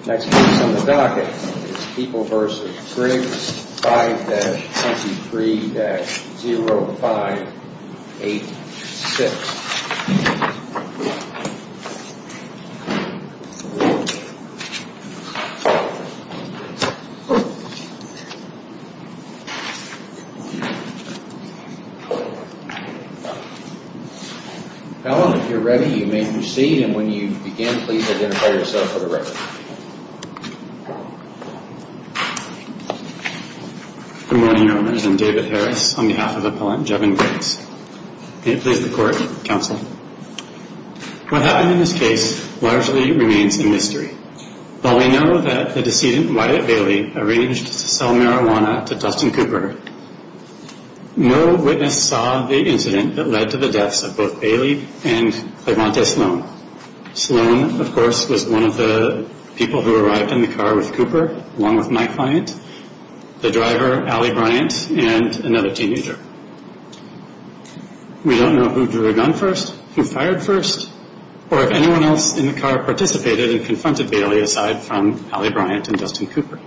5-23-0586. Helen, if you're ready, you may proceed. And when you begin, please identify yourself for the record. Good morning, Owners. I'm David Harris on behalf of Appellant Jevin Griggs. May it please the Court, Counsel. What happened in this case largely remains a mystery. While we know that the decedent, Wyatt Bailey, arranged to sell marijuana to Dustin Cooper, no witness saw the incident that led to the deaths of both Bailey and Sloan. Sloan, of course, was one of the people who arrived in the car with Cooper, along with my client, the driver, Allie Bryant, and another teenager. We don't know who drew a gun first, who fired first, or if anyone else in the car participated and confronted Bailey aside from Allie Bryant and Dustin Cooper.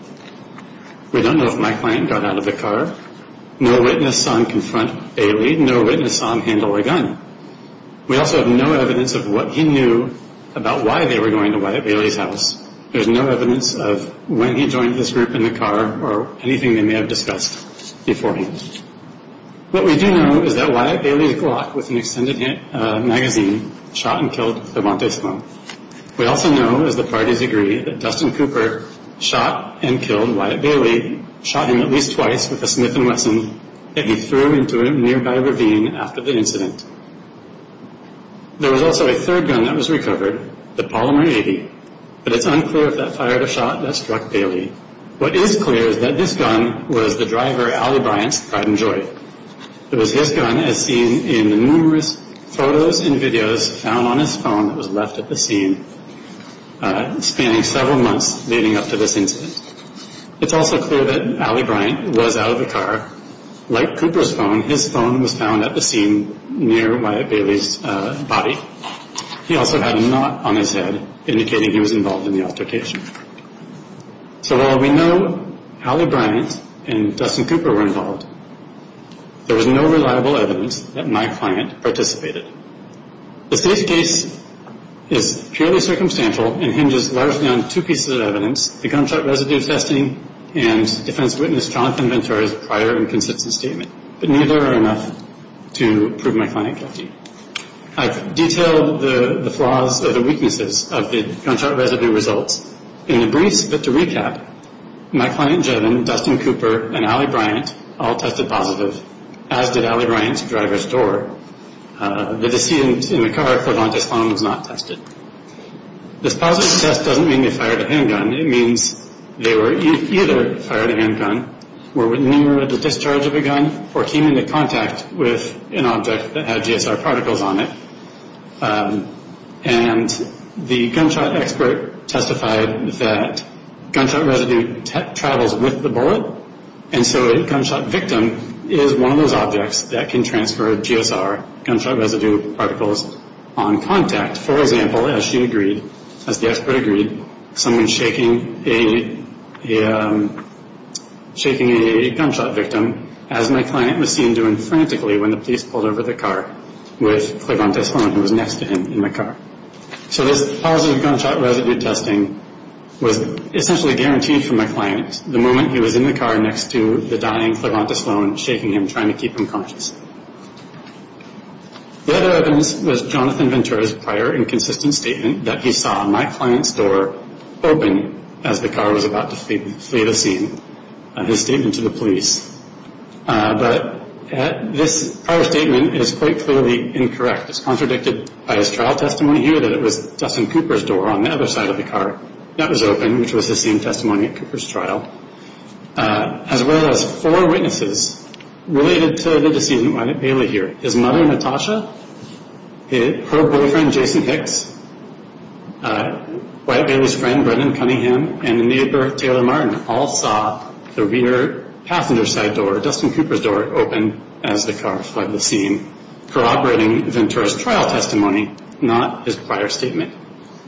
We don't know if my client got out of the car. No witness saw him confront Bailey. No witness saw him handle a gun. We also have no evidence of what he knew about why they were going to Wyatt Bailey's house. There's no evidence of when he joined this group in the car or anything they may have discussed beforehand. What we do know is that Wyatt Bailey's Glock with an extended magazine shot and killed the Montes Sloan. We also know, as the parties agree, that Dustin Cooper shot and killed Wyatt Bailey, shot him at least twice with a Smith & Wesson that he threw into a nearby ravine after the incident. There was also a third gun that was recovered, the Polymer 80, but it's unclear if that fired a shot that struck Bailey. What is clear is that this gun was the driver, Allie Bryant's, pride and joy. It was his gun as seen in numerous photos and videos found on his phone that was left at the scene, spanning several months leading up to this incident. It's also clear that Allie Bryant was out of the car. Like Cooper's phone, his phone was found at the scene near Wyatt Bailey's body. He also had a knot on his head indicating he was involved in the altercation. So while we know Allie Bryant and Dustin Cooper were involved, there was no reliable evidence that my client participated. This case is purely circumstantial and hinges largely on two pieces of evidence, the gunshot but neither are enough to prove my client guilty. I've detailed the flaws or the weaknesses of the gunshot residue results in the briefs, but to recap, my client Jevin, Dustin Cooper, and Allie Bryant all tested positive, as did Allie Bryant's driver's door. The decedent in the car, Claudante's phone, was not tested. This positive test doesn't mean they fired a handgun. It means they were either fired a handgun, were near the discharge of a gun, or came into contact with an object that had GSR particles on it. And the gunshot expert testified that gunshot residue travels with the bullet, and so a gunshot victim is one of those objects that can transfer GSR, gunshot residue particles, on contact. For example, as she agreed, as the expert agreed, someone shaking a gunshot victim, as my client was seen doing frantically when the police pulled over the car with Claudante's phone that was next to him in the car. So this positive gunshot residue testing was essentially guaranteed for my client the moment he was in the car next to the dying Claudante's phone, shaking him, trying to keep him conscious. The other evidence was Jonathan Ventura's prior inconsistency, his statement that he saw my client's door open as the car was about to flee the scene, his statement to the police. But this prior statement is quite clearly incorrect. It's contradicted by his trial testimony here that it was Dustin Cooper's door on the other side of the car that was open, which was his same testimony at Cooper's trial, as well as four witnesses related to the decedent right at Bailey here. His mother, Natasha, her boyfriend, Jason Hicks, Wyatt Bailey's friend, Brendan Cunningham, and the neighbor, Taylor Martin, all saw the rear passenger side door, Dustin Cooper's door, open as the car fled the scene, corroborating Ventura's trial testimony, not his prior statement.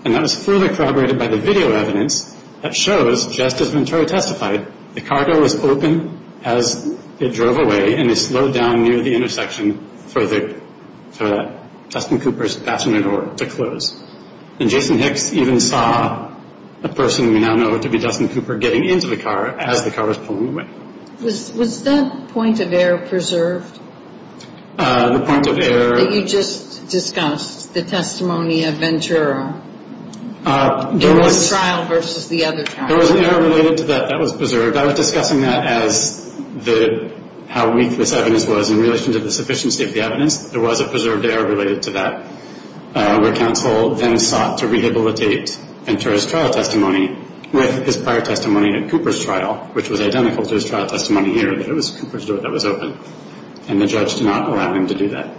And that was further corroborated by the video evidence that shows, just as Ventura testified, the car door was open as it drove away and it slowed down near the intersection for Dustin Cooper's passenger door to close. And Jason Hicks even saw a person we now know to be Dustin Cooper getting into the car as the car was pulling away. Was that point of error preserved? The point of error... That you just discussed, the testimony of Ventura, in one trial versus the other trial. There was an error related to that that was preserved. I was discussing that as how weak this evidence was in relation to the sufficiency of the evidence. There was a preserved error related to that, where counsel then sought to rehabilitate Ventura's trial testimony with his prior testimony at Cooper's trial, which was identical to his trial testimony here, that it was Cooper's door that was open. And the judge did not allow him to do that.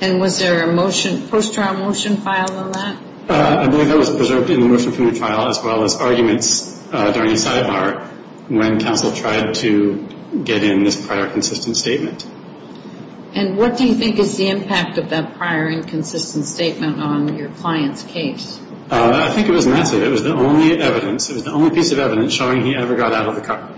And was there a post-trial motion filed on that? I believe that was preserved in the motion from the trial, as well as arguments during the sidebar when counsel tried to get in this prior consistent statement. And what do you think is the impact of that prior inconsistent statement on your client's case? I think it was massive. It was the only evidence, it was the only piece of evidence showing he ever got out of the car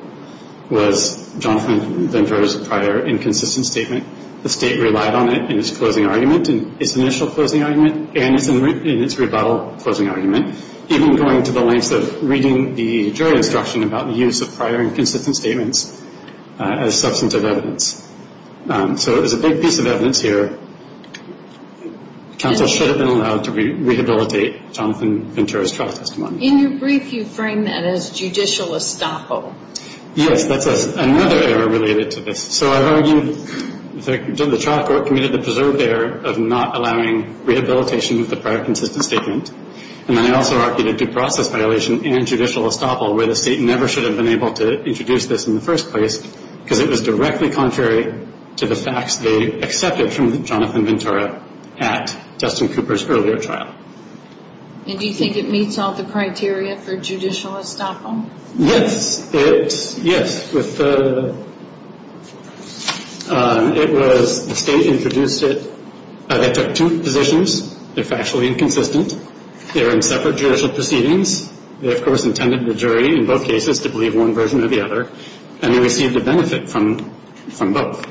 was Jonathan Ventura's prior inconsistent statement. The state relied on it in its closing argument, in its initial closing argument, and in its rebuttal closing argument, even going to the lengths of reading the jury instruction about the use of prior consistent statements as substantive evidence. So it was a big piece of evidence here. Counsel should have been allowed to rehabilitate Jonathan Ventura's trial testimony. In your brief, you frame that as judicial estoppel. Yes, that's another error related to this. So I've argued that the trial court committed the preserved error of not allowing rehabilitation of the prior consistent statement. And then I also argued a due process violation and judicial estoppel, where the state never should have been able to introduce this in the first place, because it was directly contrary to the facts they accepted from Jonathan Ventura at Dustin Cooper's earlier trial. And do you think it meets all the criteria for judicial estoppel? Yes. It's, yes. With the, it was, the state introduced it. They took two positions. They're factually inconsistent. They're in separate judicial proceedings. They, of course, intended the jury, in both cases, to believe one version or the other. And they received a benefit from, from both.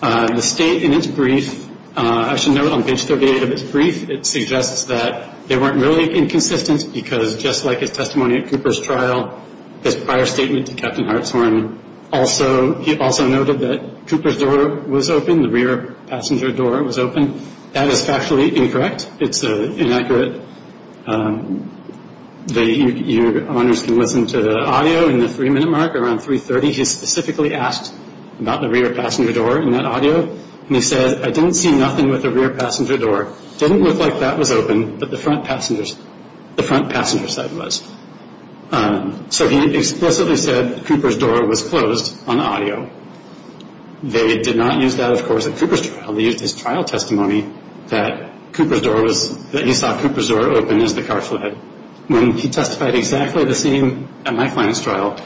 The state, in its brief, I should note on page 38 of its brief, it suggests that they weren't really inconsistent because, just like his testimony at Cooper's trial, his prior statement to Captain Hartshorn, also, he also noted that Cooper's door was open, the rear passenger door was open. That is factually incorrect. It's inaccurate. Your honors can listen to the audio. In the three-minute mark, around 3.30, he specifically asked about the rear passenger door in that audio. And he said, I didn't see nothing with the rear passenger door. It didn't look like that was open, but the front passenger's, the front passenger's side was. So he explicitly said Cooper's door was closed on audio. They did not use that, of course, at Cooper's trial. They used his trial testimony that Cooper's door was, that he saw Cooper's door open as the car fled. When he testified exactly the same at my client's trial,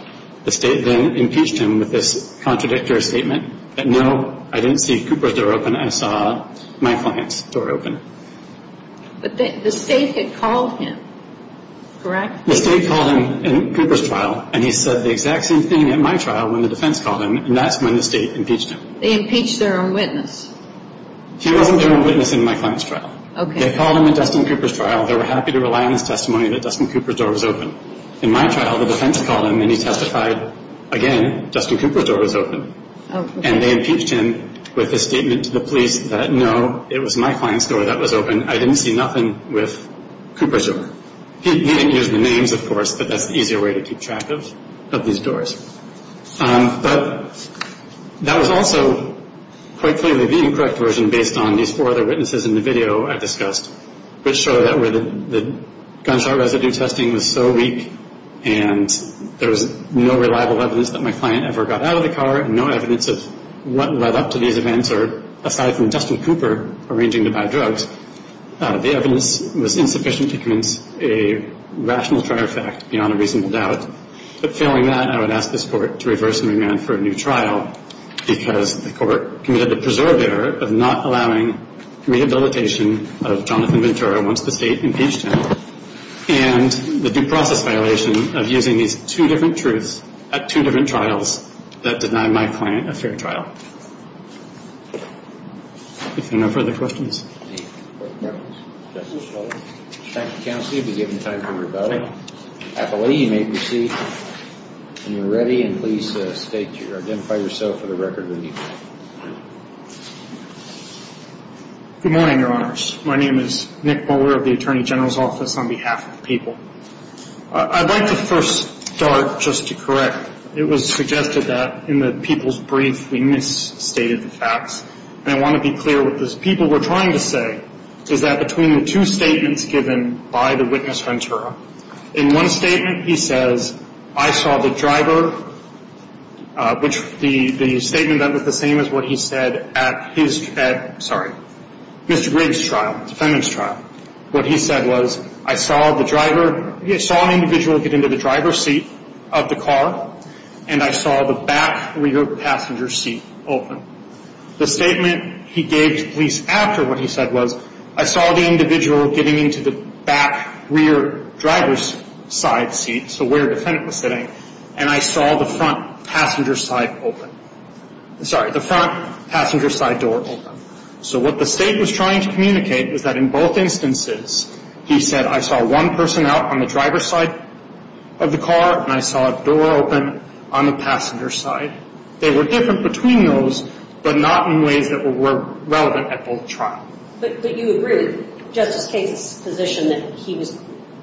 the state then impeached him with this contradictory statement that, no, I didn't see Cooper's door open. I saw my client's door open. But the state had called him, correct? The state called him in Cooper's trial, and he said the exact same thing at my trial when the defense called him, and that's when the state impeached him. They impeached their own witness. He wasn't their own witness in my client's trial. They called him at Dustin Cooper's trial. They were happy to rely on his testimony that Dustin Cooper's door was open. In my trial, the defense called him, and he testified, again, Dustin Cooper's door was open. And they impeached him with this statement to the police that, no, it was my client's door that was open. I didn't see nothing with Cooper's door. He didn't use the names, of course, but that's the easier way to keep track of these doors. But that was also quite clearly the incorrect version based on these four other witnesses in the video I discussed, which show that the gunshot residue testing was so weak, and there was no reliable evidence that my client ever got out of the car, no evidence of what led up to these events, or aside from Dustin Cooper arranging to buy drugs, the evidence was insufficient to convince a rational trial fact beyond a reasonable doubt. But failing that, I would ask this Court to reverse and remand for a new trial because the Court committed a preserved error of not allowing rehabilitation of Jonathan Ventura once the state impeached him, and the due process violation of using these two different truths at two different trials that denied my client a fair trial. If there are no further questions. Thank you, Counselor. You'll be given time for your vote. At the lady, you may proceed when you're ready, and please identify yourself for the record when you vote. Good morning, Your Honors. My name is Nick Moeller of the Attorney General's Office on behalf of the people. I'd like to first start just to correct. It was suggested that in the people's brief we misstated the facts, and I want to be clear what the people were trying to say is that between the two statements given by the witness Ventura, in one statement he says, I saw the driver, which the statement that was the same as what he said at his, at, sorry, Mr. Griggs' trial, defendant's trial. What he said was, I saw the driver, I saw an individual get into the driver's seat of the car, and I saw the back rear passenger seat open. The statement he gave to police after what he said was, I saw the individual getting into the back rear driver's side seat, so where the defendant was sitting, and I saw the front passenger side open. Sorry, the front passenger side door open. So what the state was trying to communicate was that in both instances he said, I saw one person out on the driver's side of the car, and I saw a door open on the passenger side. They were different between those, but not in ways that were relevant at both trials. But you agree with Justice Kagan's position that he was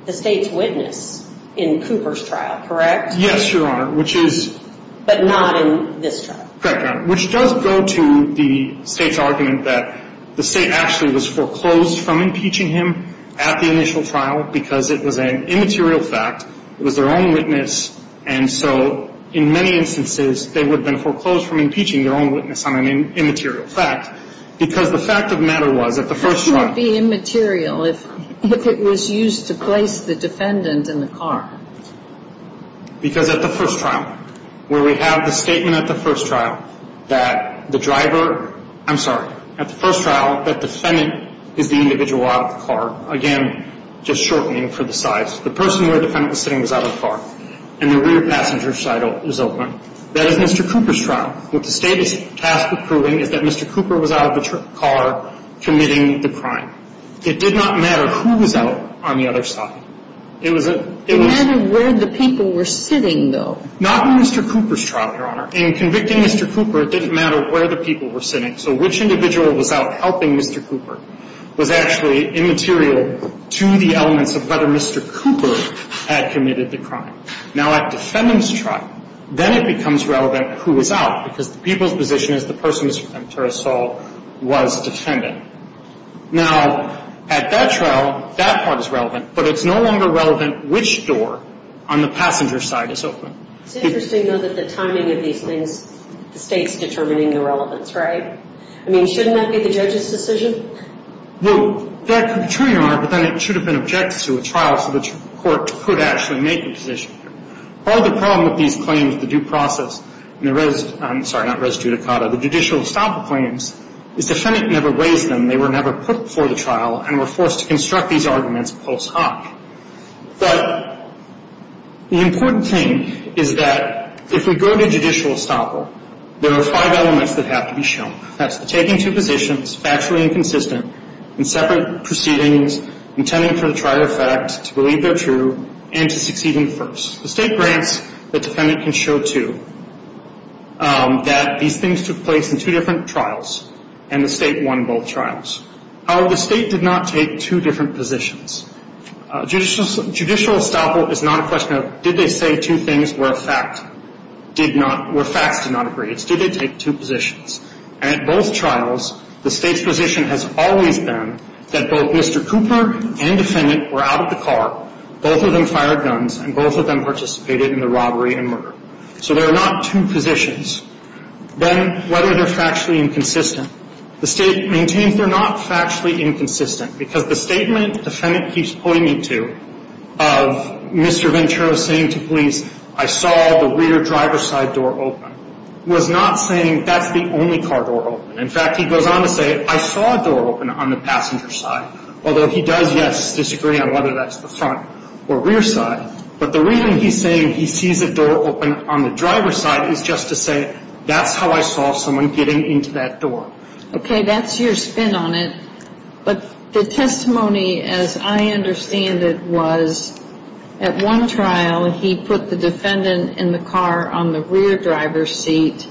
the state's witness in Cooper's trial, correct? Yes, Your Honor, which is... But not in this trial. Correct, Your Honor, which does go to the state's argument that the state actually was foreclosed from impeaching him at the initial trial because it was an immaterial fact. It was their own witness, and so in many instances, they would have been foreclosed from impeaching their own witness on an immaterial fact because the fact of the matter was at the first trial... How could it be immaterial if it was used to place the defendant in the car? Because at the first trial, where we have the statement at the first trial that the driver... I'm sorry. At the first trial, that defendant is the individual out of the car. Again, just shortening for the size. The person where the defendant was sitting was out of the car, and the rear passenger side was open. That is Mr. Cooper's trial. What the state is tasked with proving is that Mr. Cooper was out of the car committing the crime. It did not matter who was out on the other side. It was a... It mattered where the people were sitting, though. Not in Mr. Cooper's trial, Your Honor. In convicting Mr. Cooper, it didn't matter where the people were sitting. So which individual was out helping Mr. Cooper was actually immaterial to the elements of whether Mr. Cooper had committed the crime. Now, at the defendant's trial, then it becomes relevant who was out because the people's position is the person, as Mr. Ventura saw, was defendant. Now, at that trial, that part is relevant, but it's no longer relevant which door on the passenger side is open. It's interesting, though, that the timing of these things, the state's determining the relevance, right? I mean, shouldn't that be the judge's decision? Well, that could be true, Your Honor, but then it should have been objected to at trial so the court could actually make a decision. Part of the problem with these claims, the due process, and the res... I'm sorry, not res judicata, the judicial estoppel claims is the defendant never raised them. They were never put before the trial and were forced to construct these arguments post hoc. But the important thing is that if we go to judicial estoppel, there are five elements that have to be shown. That's the taking two positions, factually inconsistent, in separate proceedings, intending for the trial to affect, to believe they're true, and to succeed in the first. The state grants the defendant can show, too, that these things took place in two different trials, and the state won both trials. However, the state did not take two different positions. Judicial estoppel is not a question of, did they say two things where facts did not agree? It's, did they take two positions? And at both trials, the state's position has always been that both Mr. Cooper and defendant were out of the car, both of them fired guns, and both of them participated in the robbery and murder. So there are not two positions. Then, whether they're factually inconsistent, the state maintains they're not factually inconsistent because the statement the defendant keeps pointing to of Mr. Ventura saying to police, I saw the rear driver's side door open, was not saying that's the only car door open. In fact, he goes on to say, I saw a door open on the passenger side, although he does, yes, disagree on whether that's the front or rear side. But the reason he's saying he sees a door open on the driver's side is just to say, that's how I saw someone getting into that door. Okay, that's your spin on it. But the testimony, as I understand it, was at one trial he put the defendant in the car on the rear driver's seat,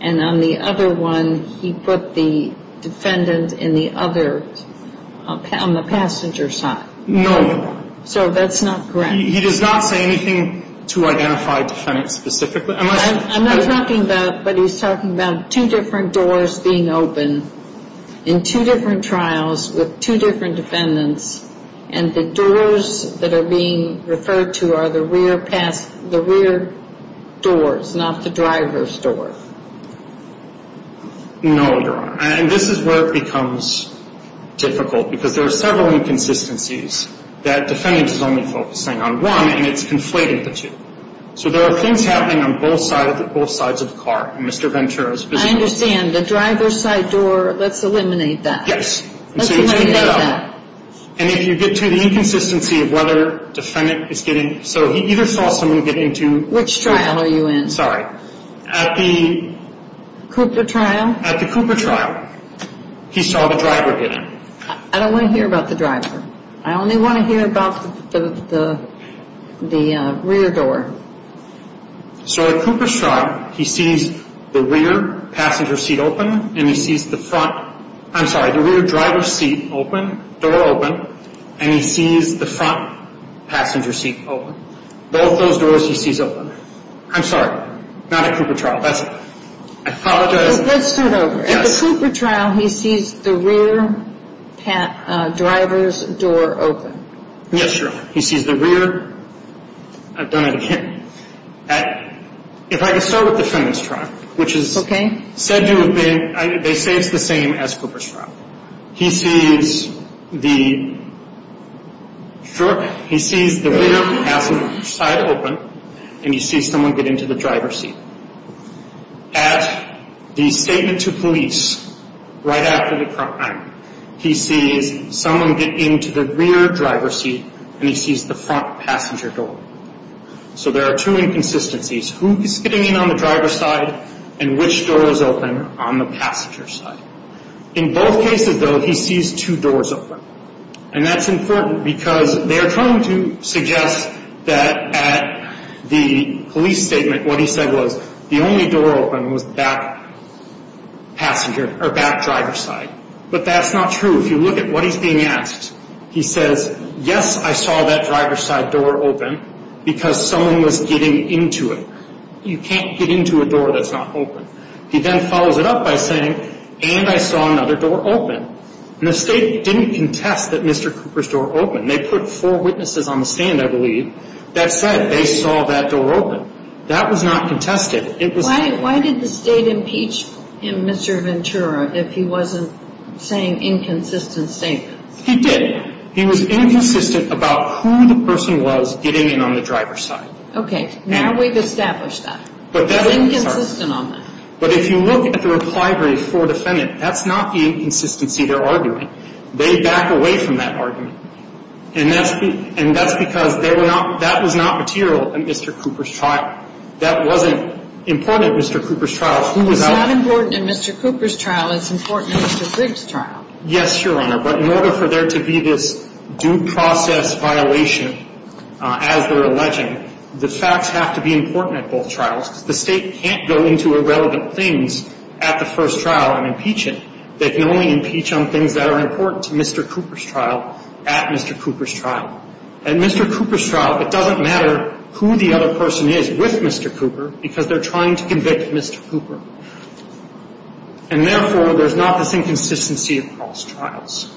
and on the other one he put the defendant in the other, on the passenger side. No. So that's not correct. He does not say anything to identify defendants specifically. I'm not talking about, but he's talking about two different doors being open in two different trials with two different defendants, and the doors that are being referred to are the rear doors, not the driver's door. No, Your Honor. And this is where it becomes difficult, because there are several inconsistencies that the defendant is only focusing on one, and it's conflating the two. So there are things happening on both sides of the car. Mr. Ventura's position. I understand. The driver's side door, let's eliminate that. Yes. Let's eliminate that. And if you get to the inconsistency of whether the defendant is getting, so he either saw someone get into. Which trial are you in? Sorry. At the Cooper trial. At the Cooper trial, he saw the driver get in. I don't want to hear about the driver. I only want to hear about the rear door. So at Cooper's trial, he sees the rear passenger seat open, and he sees the front, I'm sorry, the rear driver's seat open, door open, and he sees the front passenger seat open. Both those doors he sees open. I'm sorry, not at Cooper trial. I apologize. Let's start over. Yes. At the Cooper trial, he sees the rear driver's door open. Yes, Your Honor. He sees the rear. I've done it again. If I can start with the feminist trial. Okay. They say it's the same as Cooper's trial. He sees the, sure, he sees the rear passenger side open, and he sees someone get into the driver's seat. At the statement to police, right after the crime, he sees someone get into the rear driver's seat, and he sees the front passenger door. So there are two inconsistencies, who is getting in on the driver's side and which door is open on the passenger side. In both cases, though, he sees two doors open, and that's important because they're trying to suggest that at the police statement, what he said was the only door open was the back passenger, or back driver's side. But that's not true. If you look at what he's being asked, he says, yes, I saw that driver's side door open because someone was getting into it. You can't get into a door that's not open. He then follows it up by saying, and I saw another door open. And the state didn't contest that Mr. Cooper's door opened. They put four witnesses on the stand, I believe, that said they saw that door open. That was not contested. Why did the state impeach him, Mr. Ventura, if he wasn't saying inconsistent statements? He did. He was inconsistent about who the person was getting in on the driver's side. Okay. Now we've established that. He was inconsistent on that. But if you look at the reply brief for a defendant, that's not the inconsistency they're arguing. They back away from that argument. And that's because that was not material in Mr. Cooper's trial. That wasn't important in Mr. Cooper's trial. It's not important in Mr. Cooper's trial. It's important in Mr. Griggs' trial. Yes, Your Honor. But in order for there to be this due process violation, as they're alleging, the facts have to be important at both trials. The state can't go into irrelevant things at the first trial and impeach it. They can only impeach on things that are important to Mr. Cooper's trial at Mr. Cooper's trial. At Mr. Cooper's trial, it doesn't matter who the other person is with Mr. Cooper because they're trying to convict Mr. Cooper. And, therefore, there's not this inconsistency across trials.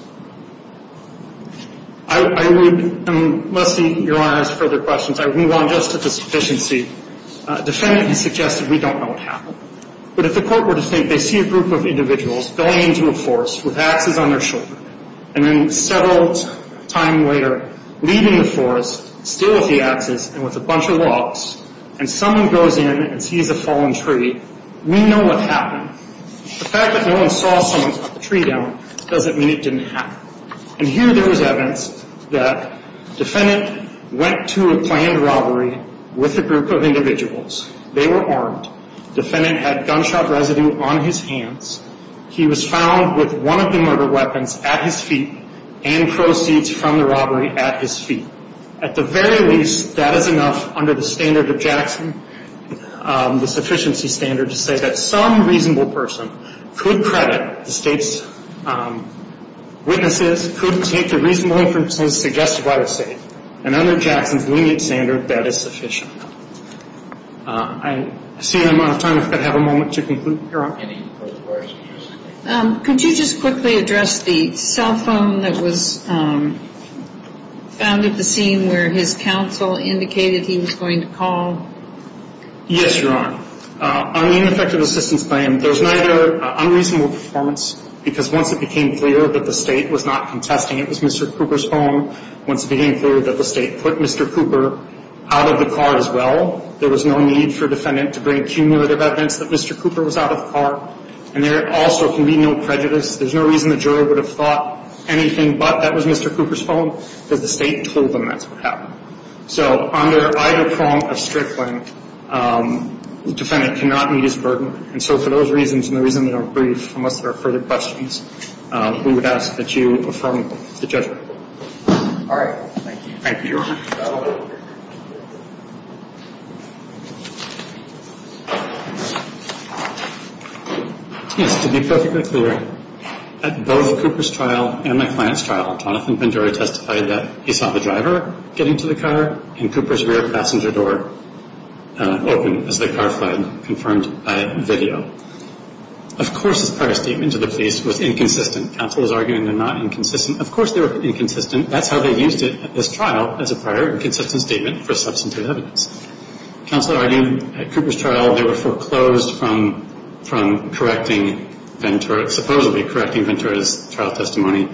I would, unless Your Honor has further questions, I would move on just to the sufficiency. A defendant has suggested we don't know what happened. But if the court were to think they see a group of individuals going into a forest with axes on their shoulder and then several times later leaving the forest still with the axes and with a bunch of logs and someone goes in and sees a fallen tree, we know what happened. The fact that no one saw someone cut the tree down doesn't mean it didn't happen. And here there was evidence that the defendant went to a planned robbery with a group of individuals. They were armed. The defendant had gunshot residue on his hands. He was found with one of the murder weapons at his feet and proceeds from the robbery at his feet. At the very least, that is enough under the standard of Jackson, the sufficiency standard, to say that some reasonable person could credit the State's witnesses, could take the reasonable inferences suggested by the State. And under Jackson's lenient standard, that is sufficient. I see that I'm out of time. I've got to have a moment to conclude. Any further questions? Could you just quickly address the cell phone that was found at the scene where his counsel indicated he was going to call? Yes, Your Honor. On the ineffective assistance claim, there was neither unreasonable performance, because once it became clear that the State was not contesting it was Mr. Cooper's phone, once it became clear that the State put Mr. Cooper out of the car as well, there was no need for a defendant to bring cumulative evidence that Mr. Cooper was out of the car. And there also can be no prejudice. There's no reason the jury would have thought anything but that was Mr. Cooper's phone, because the State told them that's what happened. So under either prong of strickling, the defendant cannot meet his burden. And so for those reasons and the reason that I'm brief, unless there are further questions, we would ask that you affirm the judgment. All right. Thank you. Yes, to be perfectly clear, at both Cooper's trial and my client's trial, Dr. Jonathan Ventura testified that he saw the driver getting to the car and Cooper's rear passenger door open as the car fled, confirmed by video. Of course his prior statement to the police was inconsistent. Counsel is arguing they're not inconsistent. Of course they were inconsistent. That's how they used it at this trial, as a prior and consistent statement for substantive evidence. Counsel argued at Cooper's trial they were foreclosed from correcting Ventura, supposedly correcting Ventura's trial testimony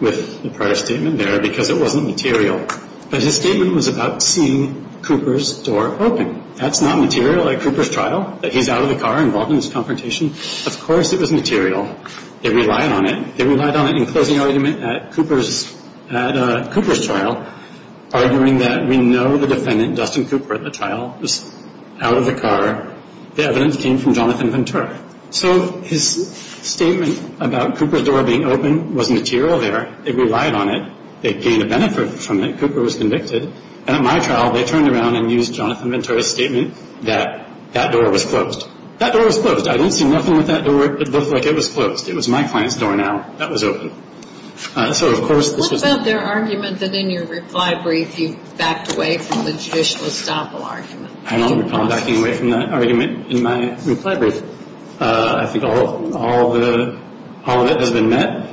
with the prior statement there, because it wasn't material. But his statement was about seeing Cooper's door open. That's not material at Cooper's trial, that he's out of the car involved in this confrontation. Of course it was material. They relied on it. They relied on it in closing argument at Cooper's trial, arguing that we know the defendant, Dustin Cooper, at the trial was out of the car. The evidence came from Jonathan Ventura. So his statement about Cooper's door being open was material there. They relied on it. They gained a benefit from it. Cooper was convicted. And at my trial they turned around and used Jonathan Ventura's statement that that door was closed. That door was closed. I didn't see nothing with that door. It looked like it was closed. It was my client's door now. That was open. So of course this was open. What about their argument that in your reply brief you backed away from the judicial estoppel argument? I'm not backing away from that argument in my reply brief. I think all of it has been met.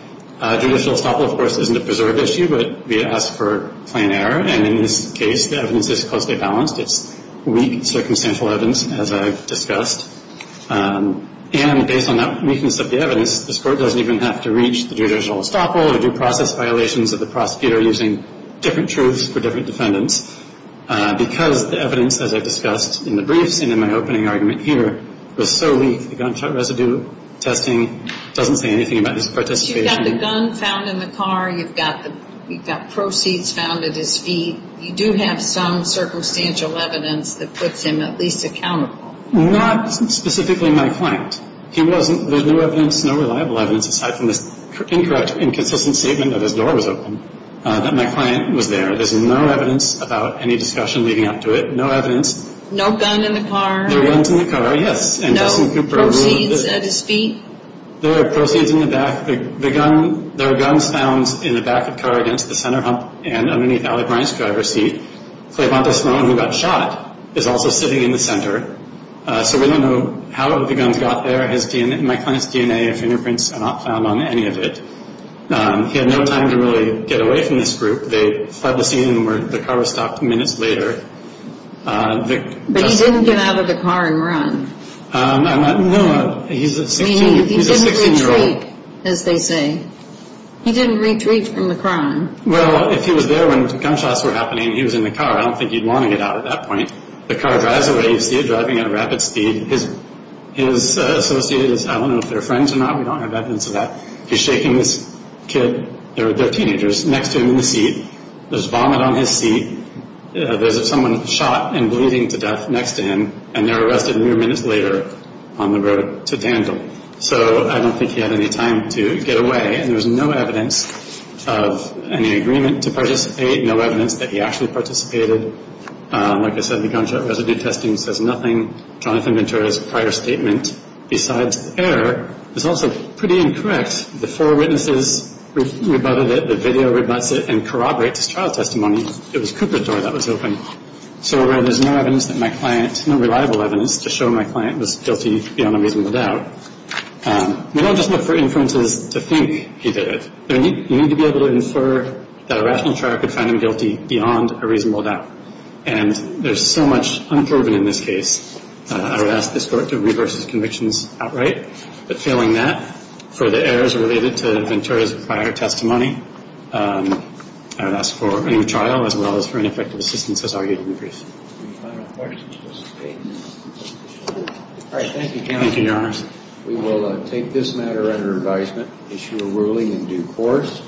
Judicial estoppel, of course, isn't a preserved issue, but we ask for plain error. And in this case the evidence is closely balanced. It's weak and circumstantial evidence, as I discussed. And based on that weakness of the evidence, this court doesn't even have to reach the judicial estoppel or due process violations of the prosecutor using different truths for different defendants because the evidence, as I discussed in the briefs and in my opening argument here, was so weak. The gunshot residue testing doesn't say anything about his participation. You've got the gun found in the car. You've got proceeds found at his feet. You do have some circumstantial evidence that puts him at least accountable. Not specifically my client. There's no evidence, no reliable evidence, aside from this incorrect, inconsistent statement that his door was open, that my client was there. There's no evidence about any discussion leading up to it. No evidence. No gun in the car. No guns in the car, yes. And Justin Cooper. No proceeds at his feet. There are proceeds in the back. There are guns found in the back of the car against the center hump and underneath Allie Bryant's driver's seat. Cleopatra Sloan, who got shot, is also sitting in the center. So we don't know how the guns got there. My client's DNA and fingerprints are not found on any of it. He had no time to really get away from this group. They fled the scene. The car was stopped minutes later. But he didn't get out of the car and run. No, he's a 16-year-old. He didn't retreat, as they say. He didn't retreat from the crime. Well, if he was there when the gunshots were happening and he was in the car, I don't think he'd want to get out at that point. The car drives away. You see it driving at a rapid speed. His associates, I don't know if they're friends or not. We don't have evidence of that. He's shaking this kid, they're teenagers, next to him in the seat. There's vomit on his seat. There's someone shot and bleeding to death next to him, and they're arrested mere minutes later on the road to Dandle. So I don't think he had any time to get away, and there's no evidence of any agreement to participate, no evidence that he actually participated. Like I said, the gunshot residue testing says nothing. Jonathan Ventura's prior statement, besides error, is also pretty incorrect. The four witnesses rebutted it, the video rebutts it, and corroborates his trial testimony. It was Cooper's door that was open. So there's no evidence that my client, no reliable evidence, to show my client was guilty beyond a reasonable doubt. We don't just look for inferences to think he did it. You need to be able to infer that a rational trial could find him guilty beyond a reasonable doubt. And there's so much unproven in this case. I would ask this court to reverse his convictions outright. But failing that, for the errors related to Ventura's prior testimony, I would ask for a new trial, as well as for ineffective assistance, as argued in the brief. Any final questions, Mr. Payton? All right, thank you, Your Honor. Thank you, Your Honors. We will take this matter under advisement, issue a ruling in due course.